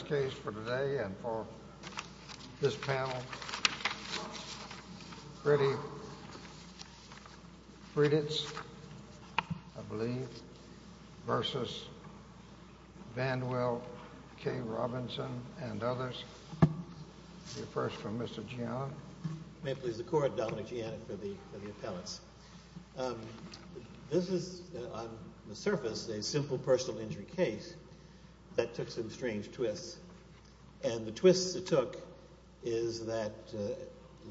Last case for today and for this panel, Freddie Friedrichs, I believe, v. Vandwell K. Robinson and others. We'll hear first from Mr. Giannott. May it please the Court, Dominic Giannott for the appellates. This is, on the surface, a simple personal injury case that took some strange twists. And the twists it took is that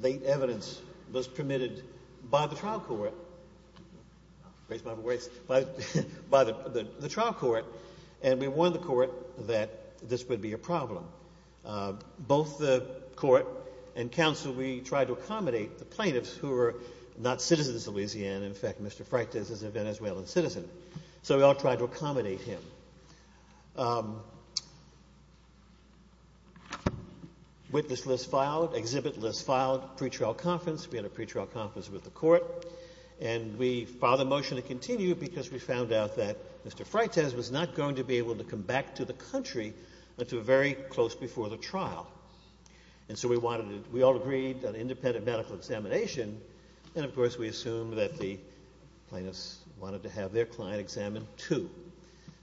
late evidence was permitted by the trial court, by the trial court, and we warned the court that this would be a problem. Both the court and counsel, we tried to accommodate the plaintiffs who were not citizens of Louisiana. In fact, Mr. Freitas is a Venezuelan citizen. So we all tried to accommodate him. Witness list filed. Exhibit list filed. Pre-trial conference. We had a pre-trial conference with the court. And we filed a motion to continue because we found out that Mr. Freitas was not going to be able to come back to the country until very close before the trial. And so we all agreed on independent medical examination. And, of course, we assumed that the plaintiffs wanted to have their client examined too.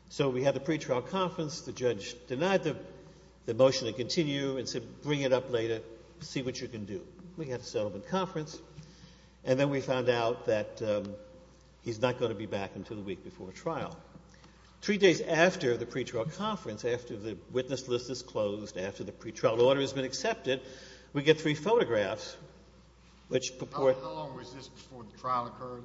So we had the pre-trial conference. The judge denied the motion to continue and said, Bring it up later. See what you can do. We had a settlement conference. And then we found out that he's not going to be back until the week before trial. Three days after the pre-trial conference, after the witness list is closed, after the pre-trial order has been accepted, we get three photographs, which purport... How long was this before the trial occurred?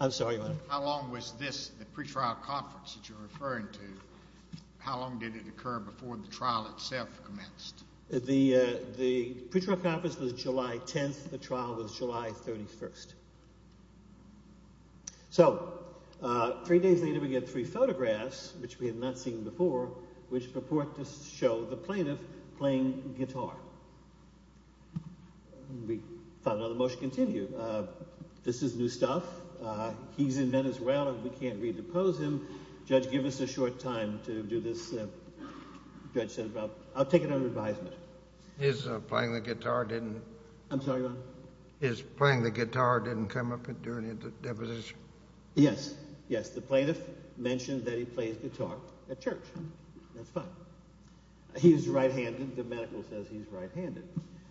I'm sorry, Your Honor. How long was this, the pre-trial conference that you're referring to, how long did it occur before the trial itself commenced? The pre-trial conference was July 10th. The trial was July 31st. So three days later, we get three photographs, which we had not seen before, which purport to show the plaintiff playing guitar. We found out the motion continued. This is new stuff. He's in Venezuela and we can't redepose him. Judge, give us a short time to do this. Judge said, I'll take it under advisement. His playing the guitar didn't... I'm sorry, Your Honor. His playing the guitar didn't come up during the deposition. Yes, yes. The plaintiff mentioned that he plays guitar at church. That's fine. He's right-handed. The medical says he's right-handed.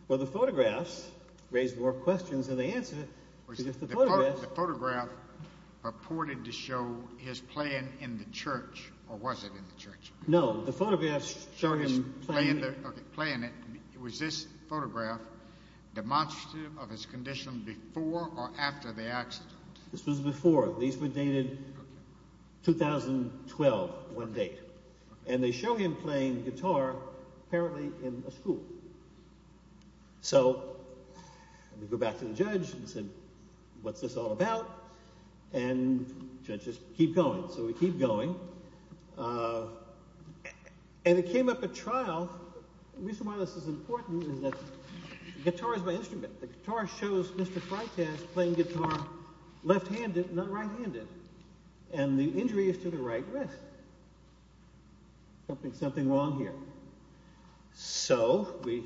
Well, the photographs raise more questions than they answer. The photograph purported to show his playing in the church, or was it in the church? No, the photographs show him playing... Okay, playing it. Was this photograph demonstrative of his condition before or after the accident? This was before. These were dated 2012, one date. And they show him playing guitar apparently in a school. So we go back to the judge and said, what's this all about? And the judge says, keep going. So we keep going. And it came up at trial. The reason why this is important is that guitar is my instrument. The guitar shows Mr. Freitas playing guitar left-handed, not right-handed. And the injury is to the right wrist. Something wrong here. So we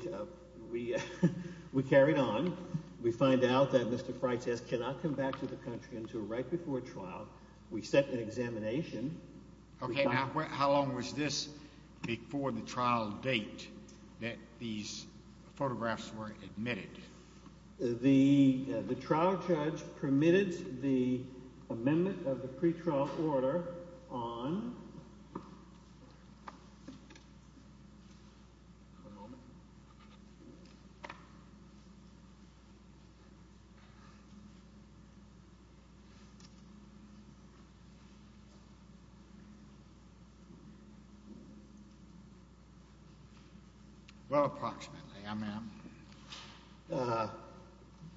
carried on. We find out that Mr. Freitas cannot come back to the country until right before trial. We set an examination. Okay, now how long was this before the trial date that these photographs were admitted? The trial judge permitted the amendment of the pretrial order on...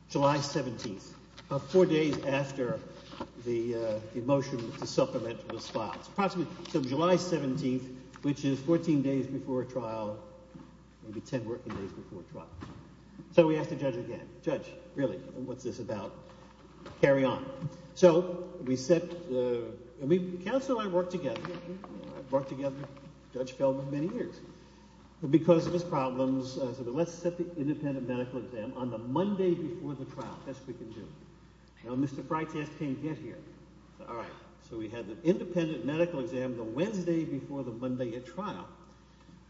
July 17th, about four days after the motion to supplement was filed. So July 17th, which is 14 days before trial, maybe 10 working days before trial. So we asked the judge again, judge, really, what's this about? Carry on. So we set... Counsel and I worked together. We worked together. Judge Feldman, many years. Because of his problems, I said, let's set the independent medical exam on the Monday before the trial. That's what we can do. Now, Mr. Freitas can't get here. All right. So we had the independent medical exam the Wednesday before the Monday at trial.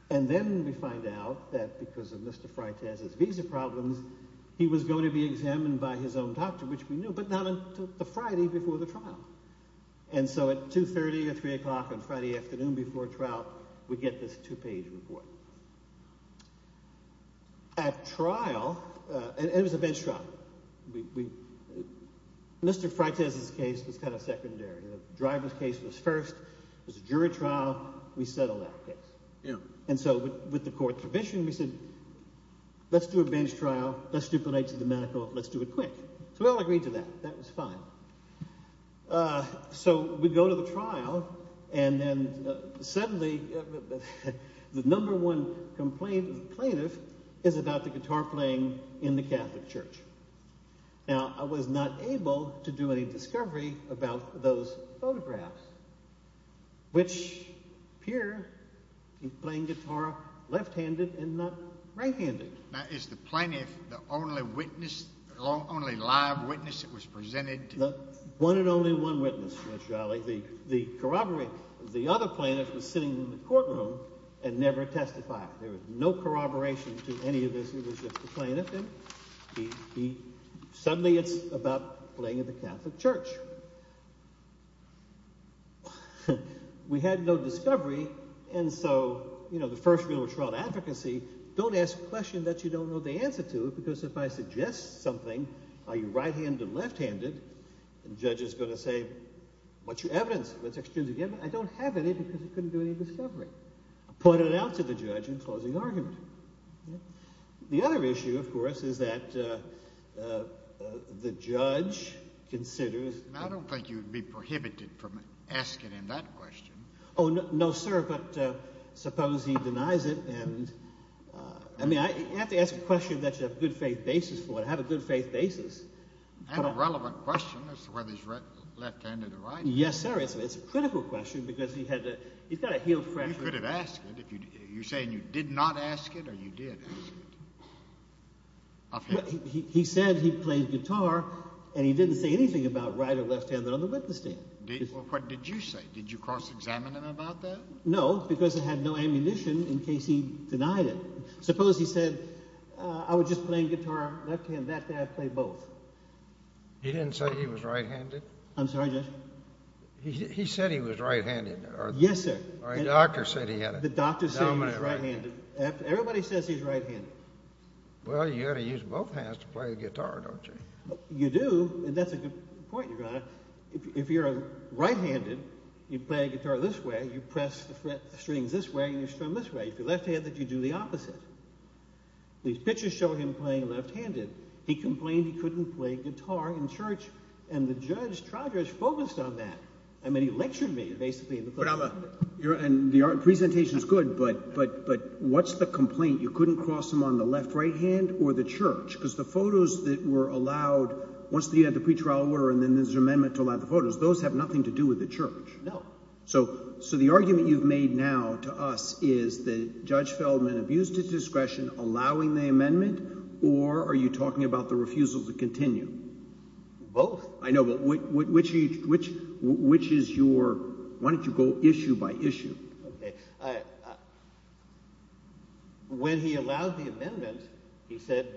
And then we find out that because of Mr. Freitas' visa problems, he was going to be examined by his own doctor, which we knew, but not until the Friday before the trial. And so at 2.30 or 3 o'clock on Friday afternoon before trial, we get this two-page report. At trial, and it was a bench trial, Mr. Freitas' case was kind of secondary. The driver's case was first. It was a jury trial. We settled that case. And so with the court's permission, we said, let's do a bench trial. Let's stipulate to the medical. Let's do it quick. So we all agreed to that. That was fine. So we go to the trial, and then suddenly the number one complaint of the plaintiff is about the guitar playing in the Catholic Church. Now, I was not able to do any discovery about those photographs, which appear he's playing guitar left-handed and not right-handed. Now, is the plaintiff the only witness, the only live witness that was presented? One and only one witness, Judge Jolly. The other plaintiff was sitting in the courtroom and never testified. There was no corroboration to any of this. It was just the plaintiff. And suddenly it's about playing in the Catholic Church. We had no discovery, and so the first rule of trial advocacy, don't ask a question that you don't know the answer to. Because if I suggest something, are you right-handed or left-handed, the judge is going to say, what's your evidence? I don't have any because I couldn't do any discovery. I pointed it out to the judge in closing argument. The other issue, of course, is that the judge considers – I don't think you would be prohibited from asking him that question. Oh, no, sir, but suppose he denies it and – I mean, you have to ask a question that you have a good faith basis for, to have a good faith basis. And a relevant question as to whether he's left-handed or right-handed. Yes, sir, it's a critical question because he's got to heal fresh – You're saying you did not ask it or you did ask it? He said he played guitar and he didn't say anything about right or left-handed on the witness stand. What did you say? Did you cross-examine him about that? No, because it had no ammunition in case he denied it. Suppose he said, I was just playing guitar left-handed, that day I played both. He didn't say he was right-handed? I'm sorry, Judge? He said he was right-handed. Yes, sir. Or a doctor said he had it. The doctor said he was right-handed. Everybody says he's right-handed. Well, you've got to use both hands to play a guitar, don't you? You do, and that's a good point, Your Honor. If you're right-handed, you play a guitar this way, you press the strings this way, and you strum this way. If you're left-handed, you do the opposite. These pictures show him playing left-handed. He complained he couldn't play guitar in church, and the judge focused on that. I mean, he lectured me, basically. Your presentation is good, but what's the complaint? You couldn't cross him on the left-right hand or the church because the photos that were allowed, once you had the pretrial order and then there's an amendment to allow the photos, those have nothing to do with the church. No. So the argument you've made now to us is that Judge Feldman abused his discretion allowing the amendment, or are you talking about the refusal to continue? Both. I know, but which is your – why don't you go issue by issue? Okay. When he allowed the amendment, he said,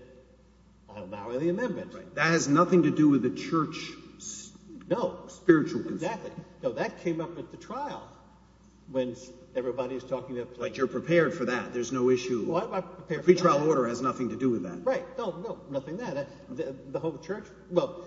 I'll allow the amendment. That has nothing to do with the church. No. Spiritual consent. Exactly. No, that came up at the trial when everybody was talking about – But you're prepared for that. There's no issue. Well, I'm prepared for that. The pretrial order has nothing to do with that. Right. No, nothing there. The whole church – well,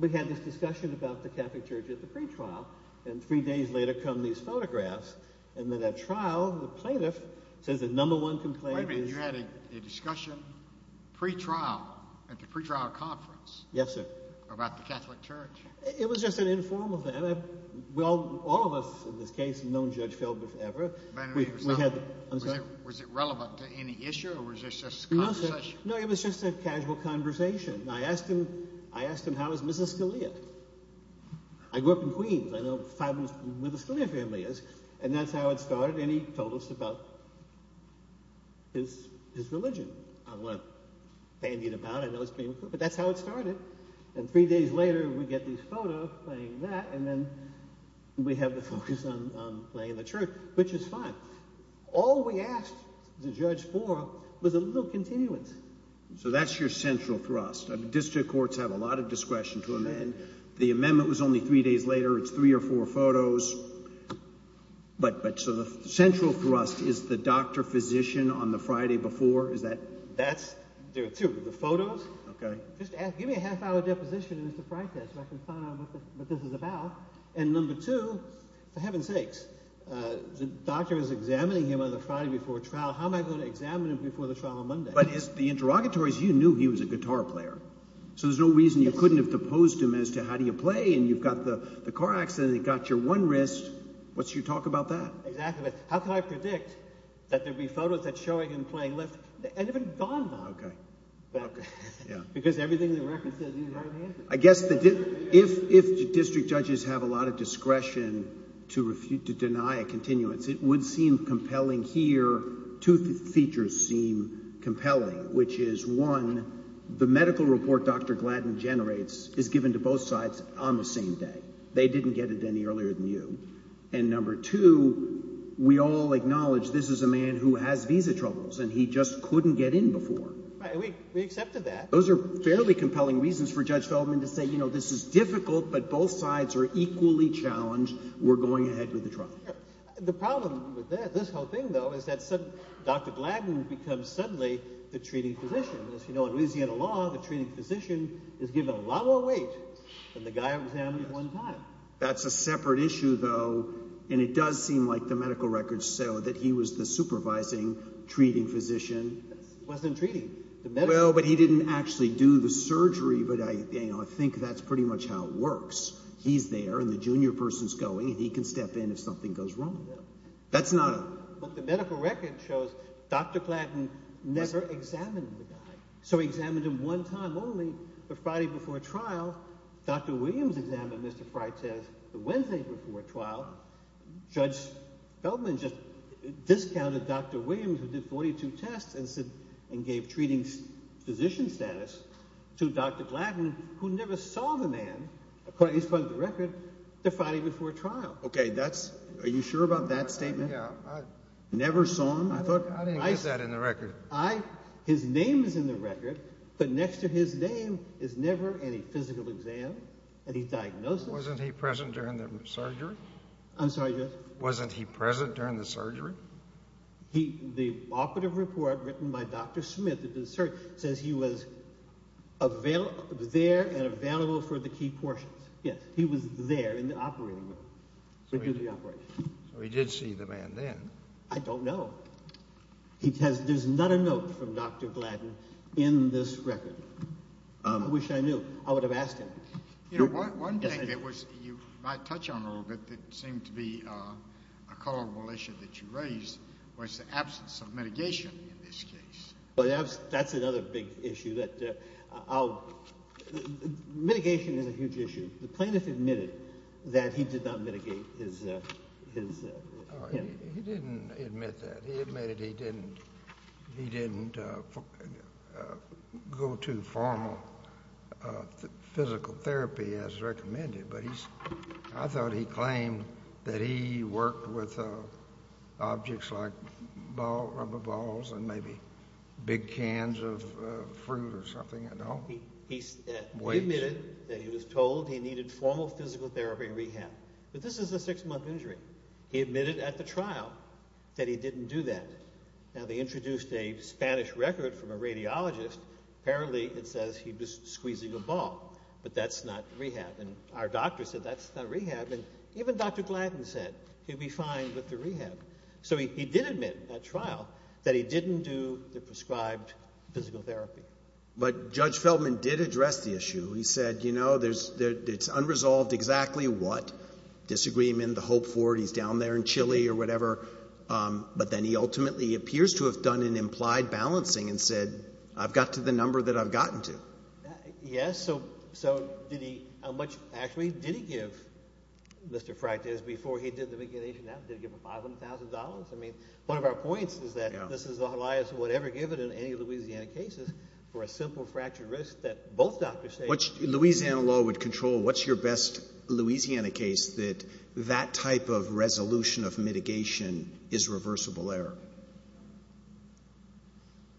we had this discussion about the Catholic Church at the pretrial and three days later come these photographs and then at trial the plaintiff says the number one complaint is – Wait a minute. You had a discussion pretrial at the pretrial conference? Yes, sir. About the Catholic Church. It was just an informal thing. All of us in this case have known Judge Feldman forever. Was it relevant to any issue or was this just a conversation? No, sir. No, it was just a casual conversation. I asked him how is Mrs. Scalia. I grew up in Queens. I know where the Scalia family is. And that's how it started and he told us about his religion. I'm not bandying about. I know it's being – but that's how it started. And three days later we get these photos playing that and then we have the focus on playing the church, which is fine. All we asked the judge for was a little continuance. So that's your central thrust. District courts have a lot of discretion to amend. The amendment was only three days later. It's three or four photos. But so the central thrust is the doctor-physician on the Friday before. Is that – That's – there are two. The photos. Okay. Just ask – give me a half-hour deposition in Mr. Freitag so I can find out what this is about. And number two, for heaven's sakes, the doctor is examining him on the Friday before a trial. How am I going to examine him before the trial on Monday? But it's the interrogatories. You knew he was a guitar player. So there's no reason you couldn't have deposed him as to how do you play and you've got the car accident. You've got your one wrist. What's your talk about that? Exactly. How can I predict that there would be photos that's showing him playing left and even gone now? Okay. Because everything in the record says he's right-handed. I guess if district judges have a lot of discretion to deny a continuance, it would seem compelling here. Two features seem compelling, which is, one, the medical report Dr. Gladden generates is given to both sides on the same day. They didn't get it any earlier than you. And number two, we all acknowledge this is a man who has visa troubles and he just couldn't get in before. Right. We accepted that. Those are fairly compelling reasons for Judge Feldman to say, you know, this is difficult, but both sides are equally challenged. We're going ahead with the trial. The problem with this whole thing, though, is that Dr. Gladden becomes suddenly the treating physician. As you know, in Louisiana law, the treating physician is given a lot more weight than the guy examined one time. That's a separate issue, though, and it does seem like the medical records show that he was the supervising treating physician. He wasn't treating. Well, but he didn't actually do the surgery. But, you know, I think that's pretty much how it works. He's there and the junior person's going and he can step in if something goes wrong. That's not a – But the medical record shows Dr. Gladden never examined the guy. So he examined him one time only, the Friday before trial. Dr. Williams examined Mr. Freitas the Wednesday before trial. Judge Feldman just discounted Dr. Williams, who did 42 tests and gave treating physician status to Dr. Gladden, who never saw the man, according to the record, the Friday before trial. Okay, that's – are you sure about that statement? Yeah. Never saw him? I didn't get that in the record. His name is in the record, but next to his name is never any physical exam, any diagnosis. Wasn't he present during the surgery? I'm sorry, Judge? Wasn't he present during the surgery? The operative report written by Dr. Smith says he was there and available for the key portions. Yes, he was there in the operating room to do the operation. So he did see the man then. I don't know. There's not a note from Dr. Gladden in this record. I wish I knew. I would have asked him. You know, one thing that you might touch on a little bit that seemed to be a culpable issue that you raised was the absence of mitigation in this case. That's another big issue. Mitigation is a huge issue. The plaintiff admitted that he did not mitigate his – He didn't admit that. I thought he claimed that he worked with objects like rubber balls and maybe big cans of fruit or something. He admitted that he was told he needed formal physical therapy rehab. But this is a six-month injury. He admitted at the trial that he didn't do that. Now, they introduced a Spanish record from a radiologist. Apparently, it says he was squeezing a ball, but that's not rehab. And our doctor said that's not rehab. And even Dr. Gladden said he'd be fine with the rehab. So he did admit at trial that he didn't do the prescribed physical therapy. But Judge Feldman did address the issue. He said, you know, it's unresolved exactly what, disagreement, the hope for it, he's down there in Chile or whatever. But then he ultimately appears to have done an implied balancing and said, I've got to the number that I've gotten to. Yes. So did he – how much, actually, did he give Mr. Fractiz before he did the mitigation? Did he give him $500,000? I mean, one of our points is that this is the highest whatever given in any Louisiana cases for a simple fractured wrist that both doctors say. Louisiana law would control what's your best Louisiana case that that type of resolution of mitigation is reversible error.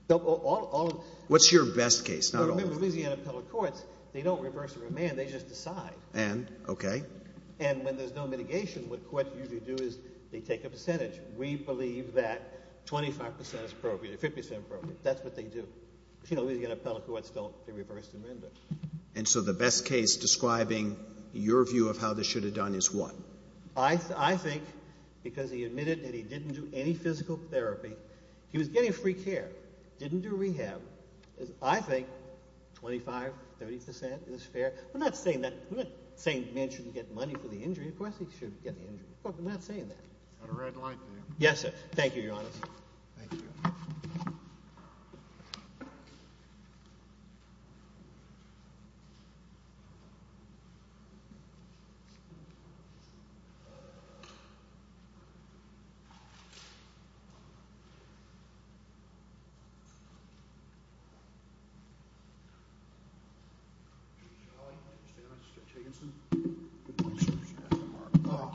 What's your best case? Remember, Louisiana appellate courts, they don't reverse the remand. They just decide. Okay. And when there's no mitigation, what courts usually do is they take a percentage. We believe that 25 percent is appropriate or 50 percent is appropriate. That's what they do. Louisiana appellate courts don't reverse the remand. And so the best case describing your view of how this should have done is what? I think because he admitted that he didn't do any physical therapy, he was getting free care, didn't do rehab. I think 25, 30 percent is fair. I'm not saying that – I'm not saying a man shouldn't get money for the injury. Of course he should get the injury. I'm not saying that. Got a red light there. Yes, sir. Thank you, Your Honor. Thank you. Thank you.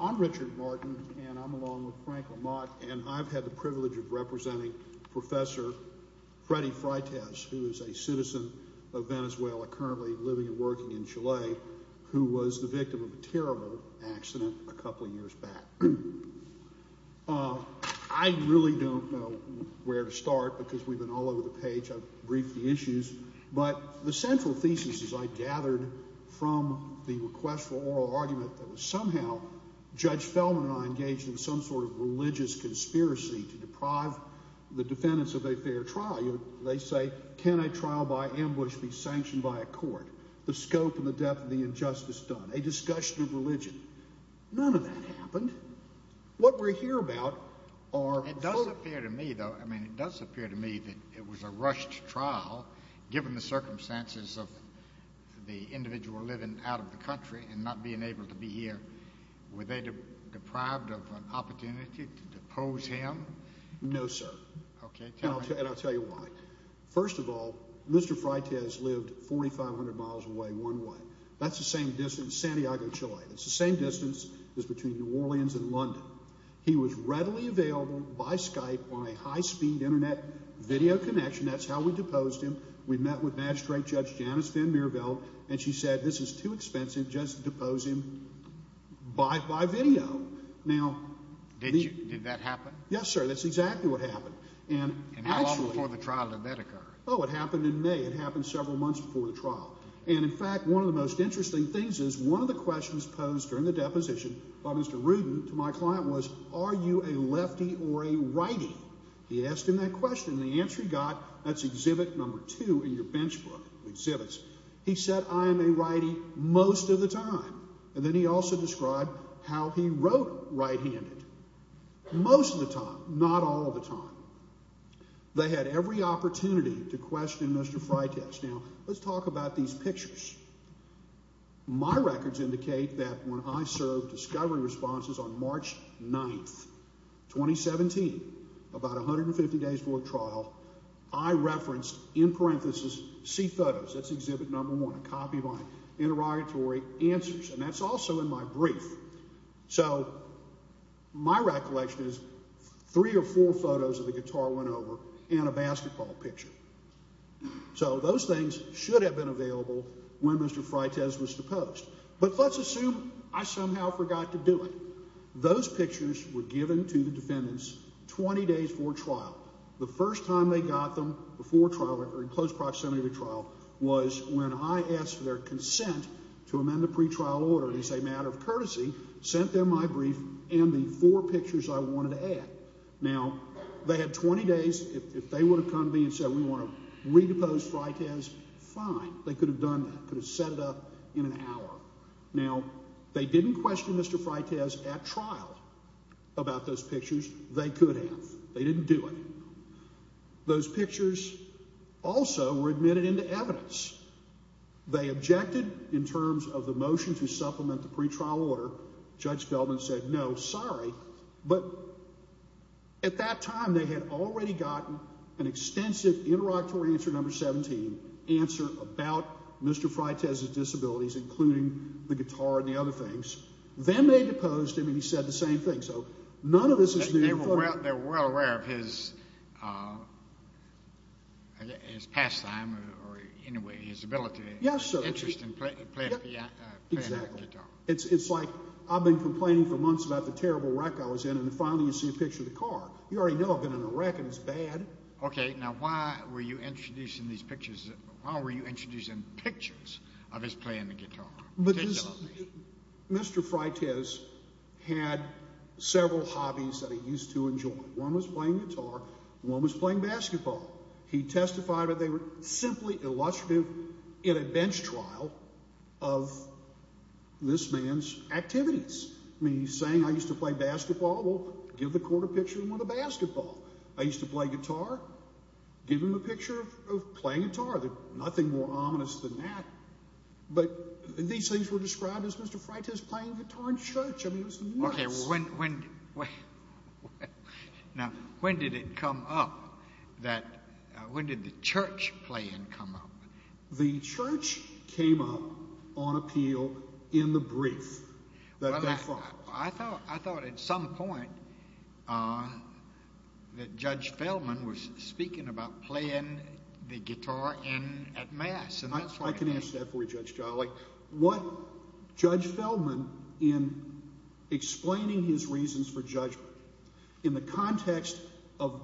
I'm Richard Martin, and I'm along with Frank LaMotte, and I've had the privilege of representing Professor Freddy Freitas, who is a citizen of Venezuela currently living and working in Chile, who was the victim of a terrible accident a couple of years back. I really don't know where to start because we've been all over the page. I've briefed the issues. But the central thesis, as I gathered from the request for oral argument, that was somehow Judge Fellman and I engaged in some sort of religious conspiracy to deprive the defendants of a fair trial. They say, can a trial by ambush be sanctioned by a court? The scope and the depth of the injustice done. A discussion of religion. None of that happened. What we hear about are – It does appear to me, though, I mean it does appear to me that it was a rushed trial, given the circumstances of the individual living out of the country and not being able to be here. Were they deprived of an opportunity to depose him? No, sir. Okay. And I'll tell you why. First of all, Mr. Freitas lived 4,500 miles away one way. That's the same distance, Santiago, Chile. It's the same distance as between New Orleans and London. He was readily available by Skype on a high-speed Internet video connection. That's how we deposed him. We met with magistrate Judge Janice van Mierveld, and she said this is too expensive just to depose him by video. Now – Did that happen? Yes, sir. That's exactly what happened. And how long before the trial did that occur? Oh, it happened in May. It happened several months before the trial. And, in fact, one of the most interesting things is one of the questions posed during the deposition by Mr. Rudin to my client was, are you a lefty or a righty? He asked him that question. And the answer he got, that's exhibit number two in your bench book, exhibits. He said, I am a righty most of the time. And then he also described how he wrote right-handed most of the time, not all of the time. They had every opportunity to question Mr. Freitas. Now, let's talk about these pictures. My records indicate that when I served discovery responses on March 9, 2017, about 150 days before the trial, I referenced, in parentheses, see photos. That's exhibit number one, a copy of my interrogatory answers. And that's also in my brief. So my recollection is three or four photos of the guitar went over and a basketball picture. So those things should have been available when Mr. Freitas was deposed. But let's assume I somehow forgot to do it. Those pictures were given to the defendants 20 days before trial. The first time they got them before trial or in close proximity to trial was when I asked for their consent to amend the pretrial order. It's a matter of courtesy. Sent them my brief and the four pictures I wanted to add. Now, they had 20 days. If they would have come to me and said we want to redepose Freitas, fine. They could have done that. Could have set it up in an hour. Now, they didn't question Mr. Freitas at trial about those pictures. They could have. They didn't do it. Those pictures also were admitted into evidence. They objected in terms of the motion to supplement the pretrial order. Judge Feldman said no, sorry. But at that time, they had already gotten an extensive interrogatory answer, number 17, about Mr. Freitas' disabilities, including the guitar and the other things. Then they deposed him, and he said the same thing. So none of this is new. They were well aware of his pastime or his ability and interest in playing the guitar. It's like I've been complaining for months about the terrible wreck I was in, and finally you see a picture of the car. You already know I've been in a wreck, and it's bad. Okay, now why were you introducing these pictures? Why were you introducing pictures of his playing the guitar? Because Mr. Freitas had several hobbies that he used to enjoy. One was playing guitar. One was playing basketball. He testified that they were simply illustrative in a bench trial of this man's activities. I mean, he's saying I used to play basketball. Well, give the court a picture of him with a basketball. I used to play guitar. Give him a picture of playing guitar. There's nothing more ominous than that. But these things were described as Mr. Freitas playing guitar in church. I mean, it was nuts. Okay, well, when did it come up that when did the church playing come up? The church came up on appeal in the brief that they filed. I thought at some point that Judge Feldman was speaking about playing the guitar at mass. I can answer that for you, Judge Jolly. What Judge Feldman, in explaining his reasons for judgment, in the context of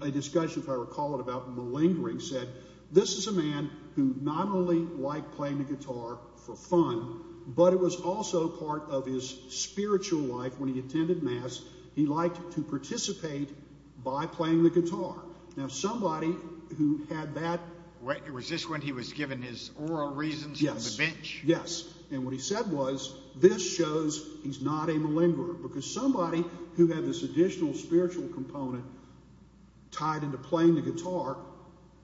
a discussion, if I recall it, about malingering, said this is a man who not only liked playing the guitar for fun, but it was also part of his spiritual life when he attended mass. He liked to participate by playing the guitar. Now, somebody who had that. Was this when he was given his oral reasons for the bench? Yes, and what he said was this shows he's not a malingerer because somebody who had this additional spiritual component tied into playing the guitar,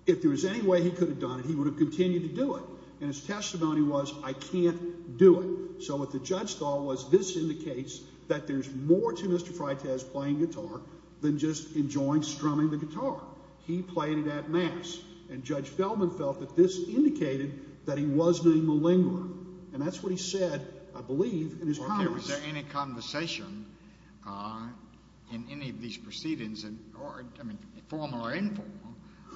if there was any way he could have done it, he would have continued to do it. And his testimony was I can't do it. So what the judge thought was this indicates that there's more to Mr. Freitag's playing guitar than just enjoying strumming the guitar. He played it at mass, and Judge Feldman felt that this indicated that he was being malingering. And that's what he said, I believe, in his comments. Was there any conversation in any of these proceedings, formal or informal,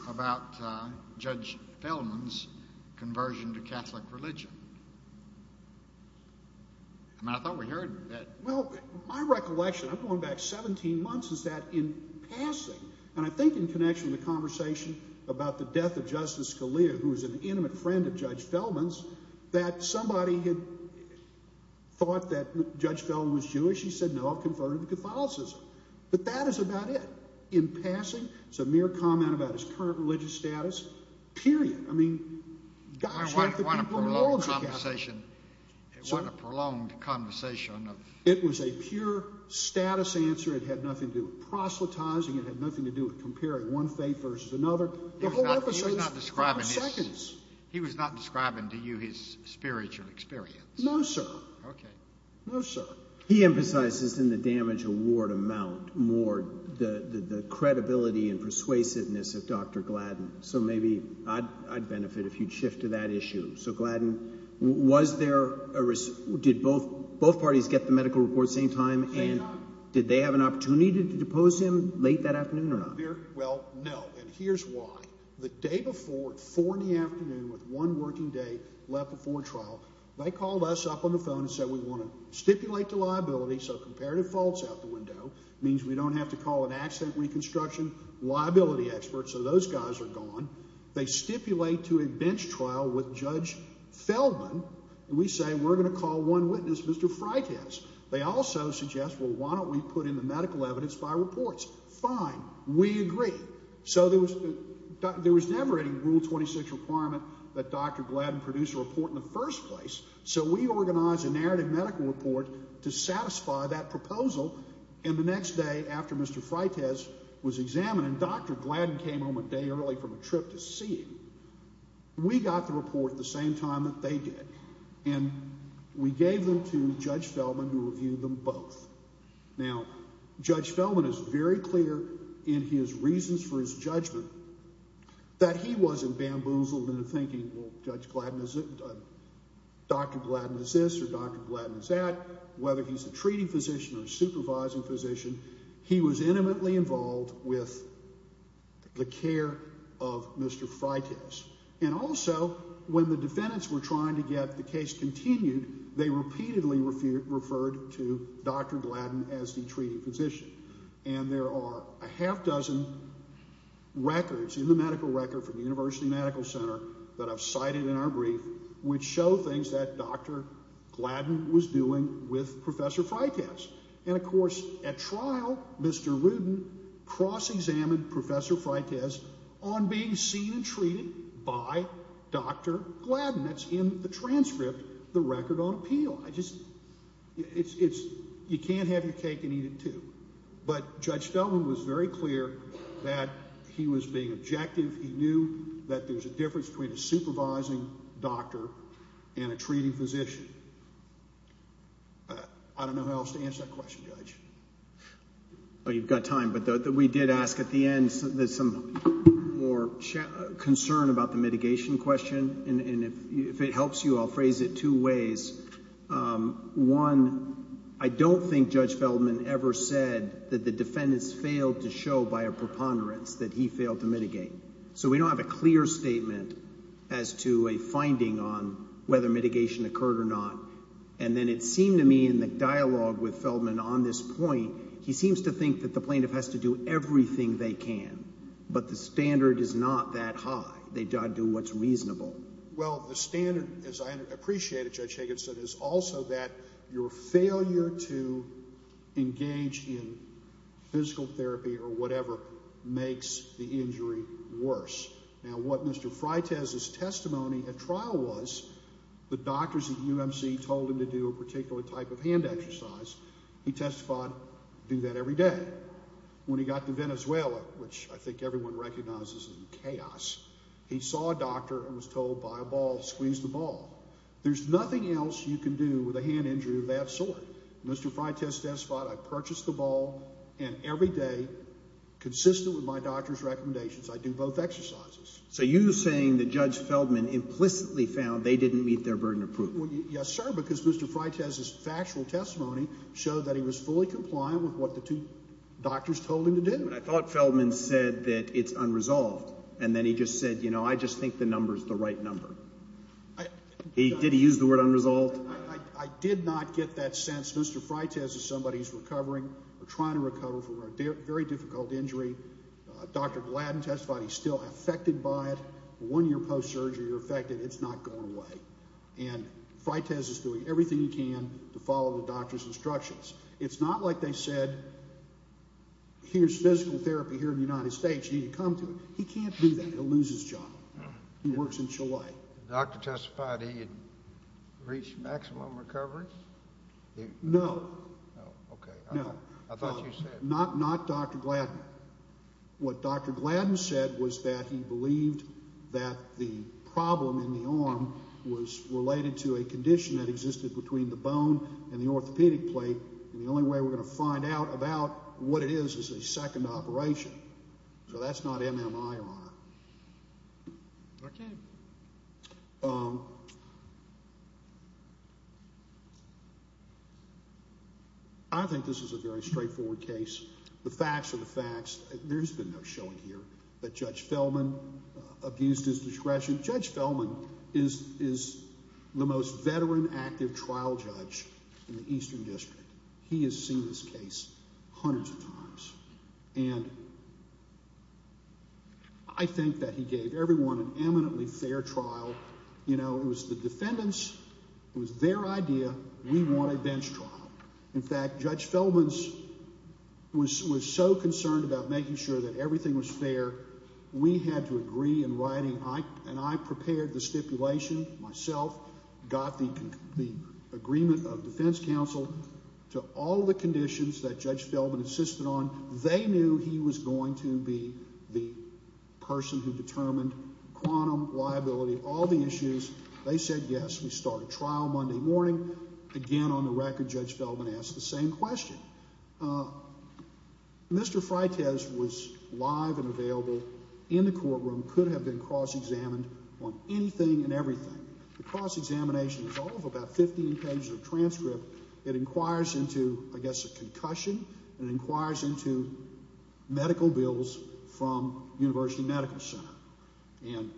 about Judge Feldman's conversion to Catholic religion? I mean, I thought we heard that. Well, my recollection, I'm going back 17 months, is that in passing, and I think in connection with the conversation about the death of Justice Scalia, who was an intimate friend of Judge Feldman's, that somebody had thought that Judge Feldman was Jewish. He said, no, I've converted to Catholicism. But that is about it. In passing, it's a mere comment about his current religious status, period. I mean, gosh, what could be more logical? It wasn't a prolonged conversation. It was a pure status answer. It had nothing to do with proselytizing. It had nothing to do with comparing one faith versus another. He was not describing to you his spiritual experience. No, sir. Okay. No, sir. He emphasizes in the damage award amount more the credibility and persuasiveness of Dr. Gladden. So maybe I'd benefit if you'd shift to that issue. So, Gladden, did both parties get the medical report same time, and did they have an opportunity to depose him late that afternoon or not? Well, no. And here's why. The day before at 4 in the afternoon with one working day left before trial, they called us up on the phone and said we want to stipulate the liability so comparative fault's out the window. It means we don't have to call an accident reconstruction liability expert, so those guys are gone. They stipulate to a bench trial with Judge Feldman, and we say we're going to call one witness, Mr. Freitas. They also suggest, well, why don't we put in the medical evidence by reports? Fine. We agree. So there was never any Rule 26 requirement that Dr. Gladden produce a report in the first place, so we organized a narrative medical report to satisfy that proposal, and the next day after Mr. Freitas was examined, and Dr. Gladden came home a day early from a trip to see him, we got the report at the same time that they did, and we gave them to Judge Feldman to review them both. Now, Judge Feldman is very clear in his reasons for his judgment that he wasn't bamboozled into thinking, well, Dr. Gladden is this or Dr. Gladden is that. Whether he's a treating physician or a supervising physician, he was intimately involved with the care of Mr. Freitas, and also when the defendants were trying to get the case continued, they repeatedly referred to Dr. Gladden as the treating physician, and there are a half dozen records in the medical record from the University Medical Center that I've cited in our brief which show things that Dr. Gladden was doing with Professor Freitas, and, of course, at trial, Mr. Rudin cross-examined Professor Freitas on being seen and treated by Dr. Gladden. That's in the transcript, the record on appeal. You can't have your cake and eat it, too. But Judge Feldman was very clear that he was being objective. He knew that there's a difference between a supervising doctor and a treating physician. I don't know how else to answer that question, Judge. You've got time, but we did ask at the end there's some more concern about the mitigation question, and if it helps you, I'll phrase it two ways. One, I don't think Judge Feldman ever said that the defendants failed to show by a preponderance that he failed to mitigate. So we don't have a clear statement as to a finding on whether mitigation occurred or not, and then it seemed to me in the dialogue with Feldman on this point, he seems to think that the plaintiff has to do everything they can, but the standard is not that high. They've got to do what's reasonable. Well, the standard, as I appreciate it, Judge Higginson, is also that your failure to engage in physical therapy or whatever makes the injury worse. Now, what Mr. Freitas' testimony at trial was, the doctors at UMC told him to do a particular type of hand exercise. He testified to do that every day. When he got to Venezuela, which I think everyone recognizes is chaos, he saw a doctor and was told by a ball, squeeze the ball. There's nothing else you can do with a hand injury of that sort. Mr. Freitas testified, I purchased the ball, and every day, consistent with my doctor's recommendations, I do both exercises. So you're saying that Judge Feldman implicitly found they didn't meet their burden of proof. Yes, sir, because Mr. Freitas' factual testimony showed that he was fully compliant with what the two doctors told him to do. I thought Feldman said that it's unresolved, and then he just said, you know, I just think the number's the right number. Did he use the word unresolved? I did not get that sense. Mr. Freitas is somebody who's recovering or trying to recover from a very difficult injury. Dr. Gladden testified he's still affected by it. One year post-surgery, you're affected, it's not going away. And Freitas is doing everything he can to follow the doctor's instructions. It's not like they said, here's physical therapy here in the United States, you need to come to it. He can't do that. He'll lose his job. He works in Chile. The doctor testified he had reached maximum recovery? No. Oh, okay. No. I thought you said. Not Dr. Gladden. What Dr. Gladden said was that he believed that the problem in the arm was related to a condition that existed between the bone and the orthopedic plate, and the only way we're going to find out about what it is is a second operation. So that's not MMIR. Okay. I think this is a very straightforward case. The facts are the facts. There's been no showing here that Judge Fellman abused his discretion. Judge Fellman is the most veteran active trial judge in the Eastern District. He has seen this case hundreds of times. And I think that he gave everyone an eminently fair trial. You know, it was the defendants, it was their idea, we want a bench trial. In fact, Judge Fellman was so concerned about making sure that everything was fair, we had to agree in writing, and I prepared the stipulation myself, got the agreement of defense counsel to all the conditions that Judge Fellman insisted on. They knew he was going to be the person who determined quantum liability, all the issues. They said yes. We started trial Monday morning. Again, on the record, Judge Fellman asked the same question. Mr. Freitas was live and available in the courtroom, could have been cross-examined on anything and everything. The cross-examination is all of about 15 pages of transcript. It inquires into, I guess, a concussion. It inquires into medical bills from University Medical Center. And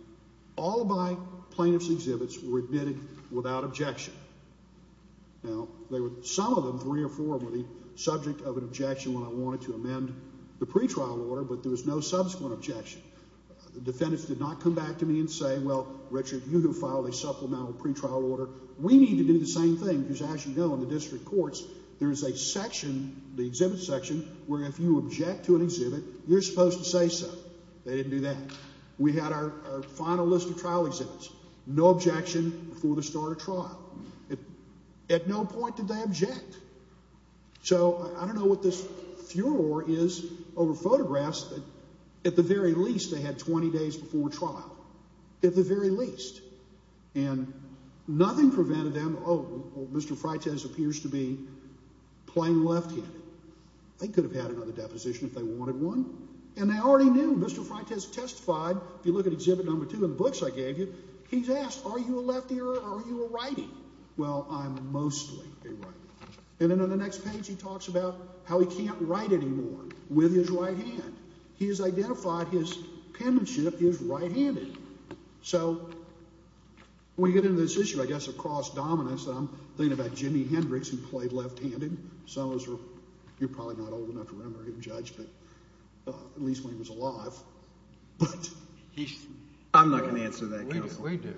all of my plaintiffs' exhibits were admitted without objection. Now, there were some of them, three or four of them, subject of an objection when I wanted to amend the pretrial order, but there was no subsequent objection. The defendants did not come back to me and say, well, Richard, you have filed a supplemental pretrial order. We need to do the same thing because, as you know, in the district courts, there is a section, the exhibit section, where if you object to an exhibit, you're supposed to say so. They didn't do that. We had our final list of trial exhibits. No objection before the start of trial. At no point did they object. So I don't know what this furor is over photographs, but at the very least, they had 20 days before trial. At the very least. And nothing prevented them. Oh, Mr. Freitas appears to be playing left-handed. They could have had another deposition if they wanted one. And they already knew. Mr. Freitas testified, if you look at exhibit number two in the books I gave you, he's asked, are you a leftie or are you a righty? Well, I'm mostly a righty. And then on the next page, he talks about how he can't write anymore with his right hand. He has identified his penmanship is right-handed. So when you get into this issue, I guess, of cross-dominance, I'm thinking about Jimi Hendrix, who played left-handed. You're probably not old enough to remember him, Judge, at least when he was alive. I'm not going to answer that question. We do.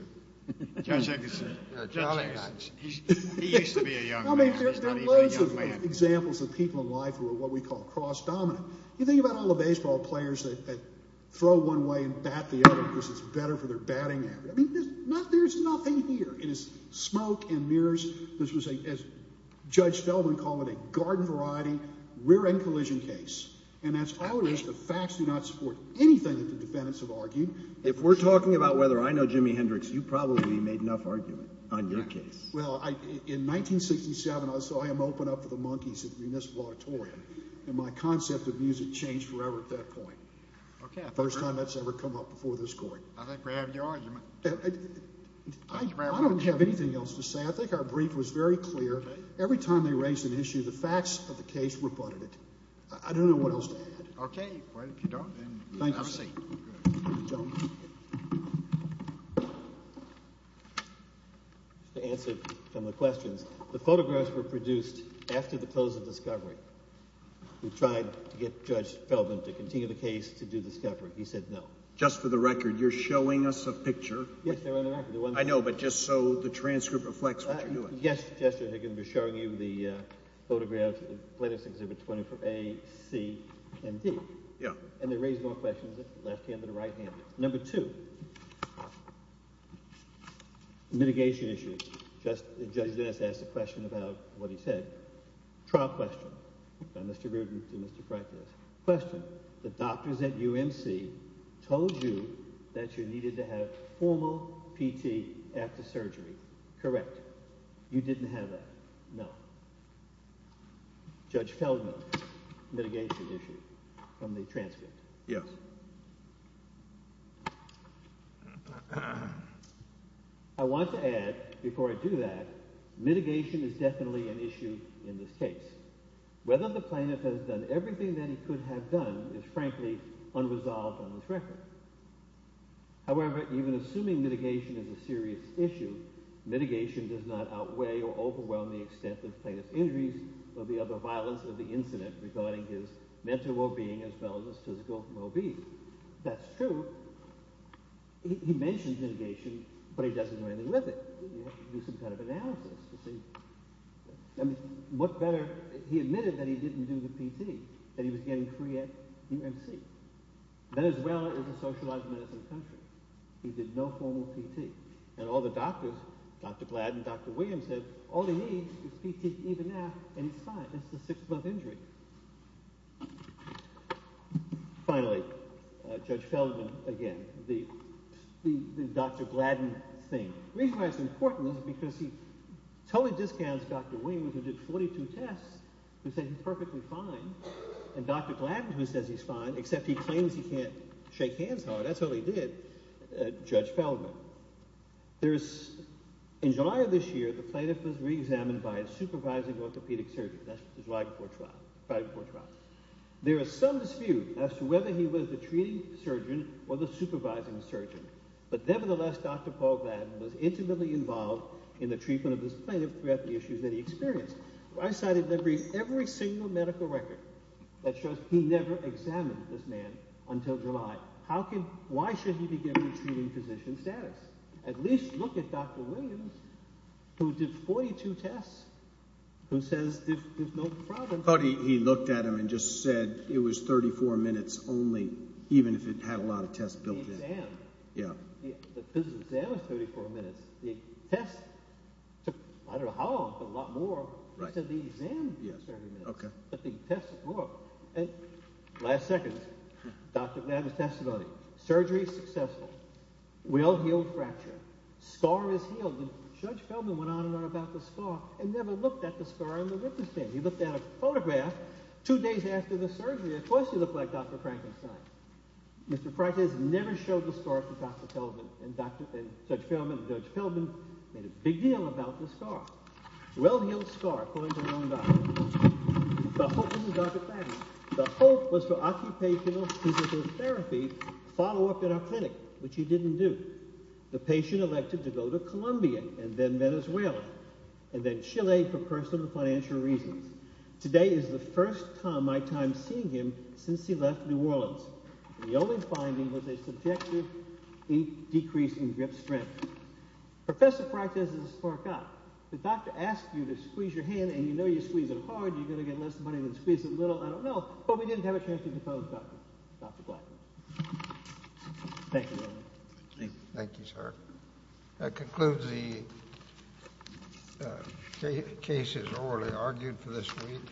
He used to be a young man. There are loads of examples of people in life who are what we call cross-dominant. You think about all the baseball players that throw one way and bat the other because it's better for their batting average. There's nothing here. It is smoke and mirrors. This was, as Judge Feldman called it, a garden-variety rear-end collision case. And as always, the facts do not support anything that the defendants have argued. If we're talking about whether I know Jimi Hendrix, you probably made enough argument on your case. Well, in 1967, I saw him open up for the Monkees in this auditorium, and my concept of music changed forever at that point. First time that's ever come up before this Court. I think we have your argument. I don't have anything else to say. I think our brief was very clear. Every time they raised an issue, the facts of the case rebutted it. I don't know what else to add. Okay. Well, if you don't, then we'll have a seat. Thank you. To answer some of the questions, the photographs were produced after the close of Discovery. We tried to get Judge Feldman to continue the case to do Discovery. He said no. Just for the record, you're showing us a picture. Yes, they're on the record. I know, but just so the transcript reflects what you're doing. Yes, Justice. They're going to be showing you the photographs of the latest exhibit, 24A, C, and D. Yeah. And they raised more questions, left-handed or right-handed. Number two. Mitigation issues. Judge Dennis asked a question about what he said. Trial question. Mr. Rudin to Mr. Freitas. Question. Correct. You didn't have that. No. Judge Feldman. Mitigation issue from the transcript. Yes. I want to add, before I do that, mitigation is definitely an issue in this case. Whether the plaintiff has done everything that he could have done is frankly unresolved on this record. However, even assuming mitigation is a serious issue, mitigation does not outweigh or overwhelm the extent of plaintiff's injuries or the other violence of the incident regarding his mental well-being as well as his physical well-being. That's true. He mentions mitigation, but he doesn't do anything with it. You have to do some kind of analysis to see. What better, he admitted that he didn't do the PT, that he was getting free at UNC. Venezuela is a socialized medicine country. He did no formal PT. And all the doctors, Dr. Gladden, Dr. Williams, said all he needs is PT even now and he's fine. That's a six-month injury. Finally, Judge Feldman again. The Dr. Gladden thing. The reason why it's important is because he totally discounts Dr. Williams who did 42 tests, who said he's perfectly fine. And Dr. Gladden who says he's fine, except he claims he can't shake hands hard. That's what he did, Judge Feldman. In July of this year, the plaintiff was reexamined by a supervising orthopedic surgeon. That's his right before trial. There is some dispute as to whether he was the treating surgeon or the supervising surgeon. But nevertheless, Dr. Paul Gladden was intimately involved in the treatment of this plaintiff throughout the issues that he experienced. I cited every single medical record that shows he never examined this man until July. Why should he be given treating physician status? At least look at Dr. Williams who did 42 tests, who says there's no problem. He looked at him and just said it was 34 minutes only, even if it had a lot of tests built in. The physical exam was 34 minutes. The tests took, I don't know how long, but a lot more. He said the exam took 34 minutes, but the tests took more. Last seconds, Dr. Gladden's testimony. Surgery successful. Will heal fracture. Scar is healed. Judge Feldman went on and on about the scar and never looked at the scar on the written statement. He looked at a photograph two days after the surgery. Of course he looked like Dr. Frankenstein. Mr. Frankenstein never showed the scar to Dr. Feldman and Judge Feldman made a big deal about the scar. Well-healed scar according to one doctor. The hope was for occupational physical therapy follow-up in our clinic, which he didn't do. The patient elected to go to Colombia and then Venezuela and then Chile for personal financial reasons. Today is the first time I'm seeing him since he left New Orleans. The only finding was a subjective decrease in grip strength. Professor Frank says it's a spark-up. The doctor asked you to squeeze your hand and you know you squeeze it hard. You're going to get less money than squeeze it little. I don't know. But we didn't have a chance to depose Dr. Gladden. Thank you. Thank you, sir. That concludes the cases already argued for this week.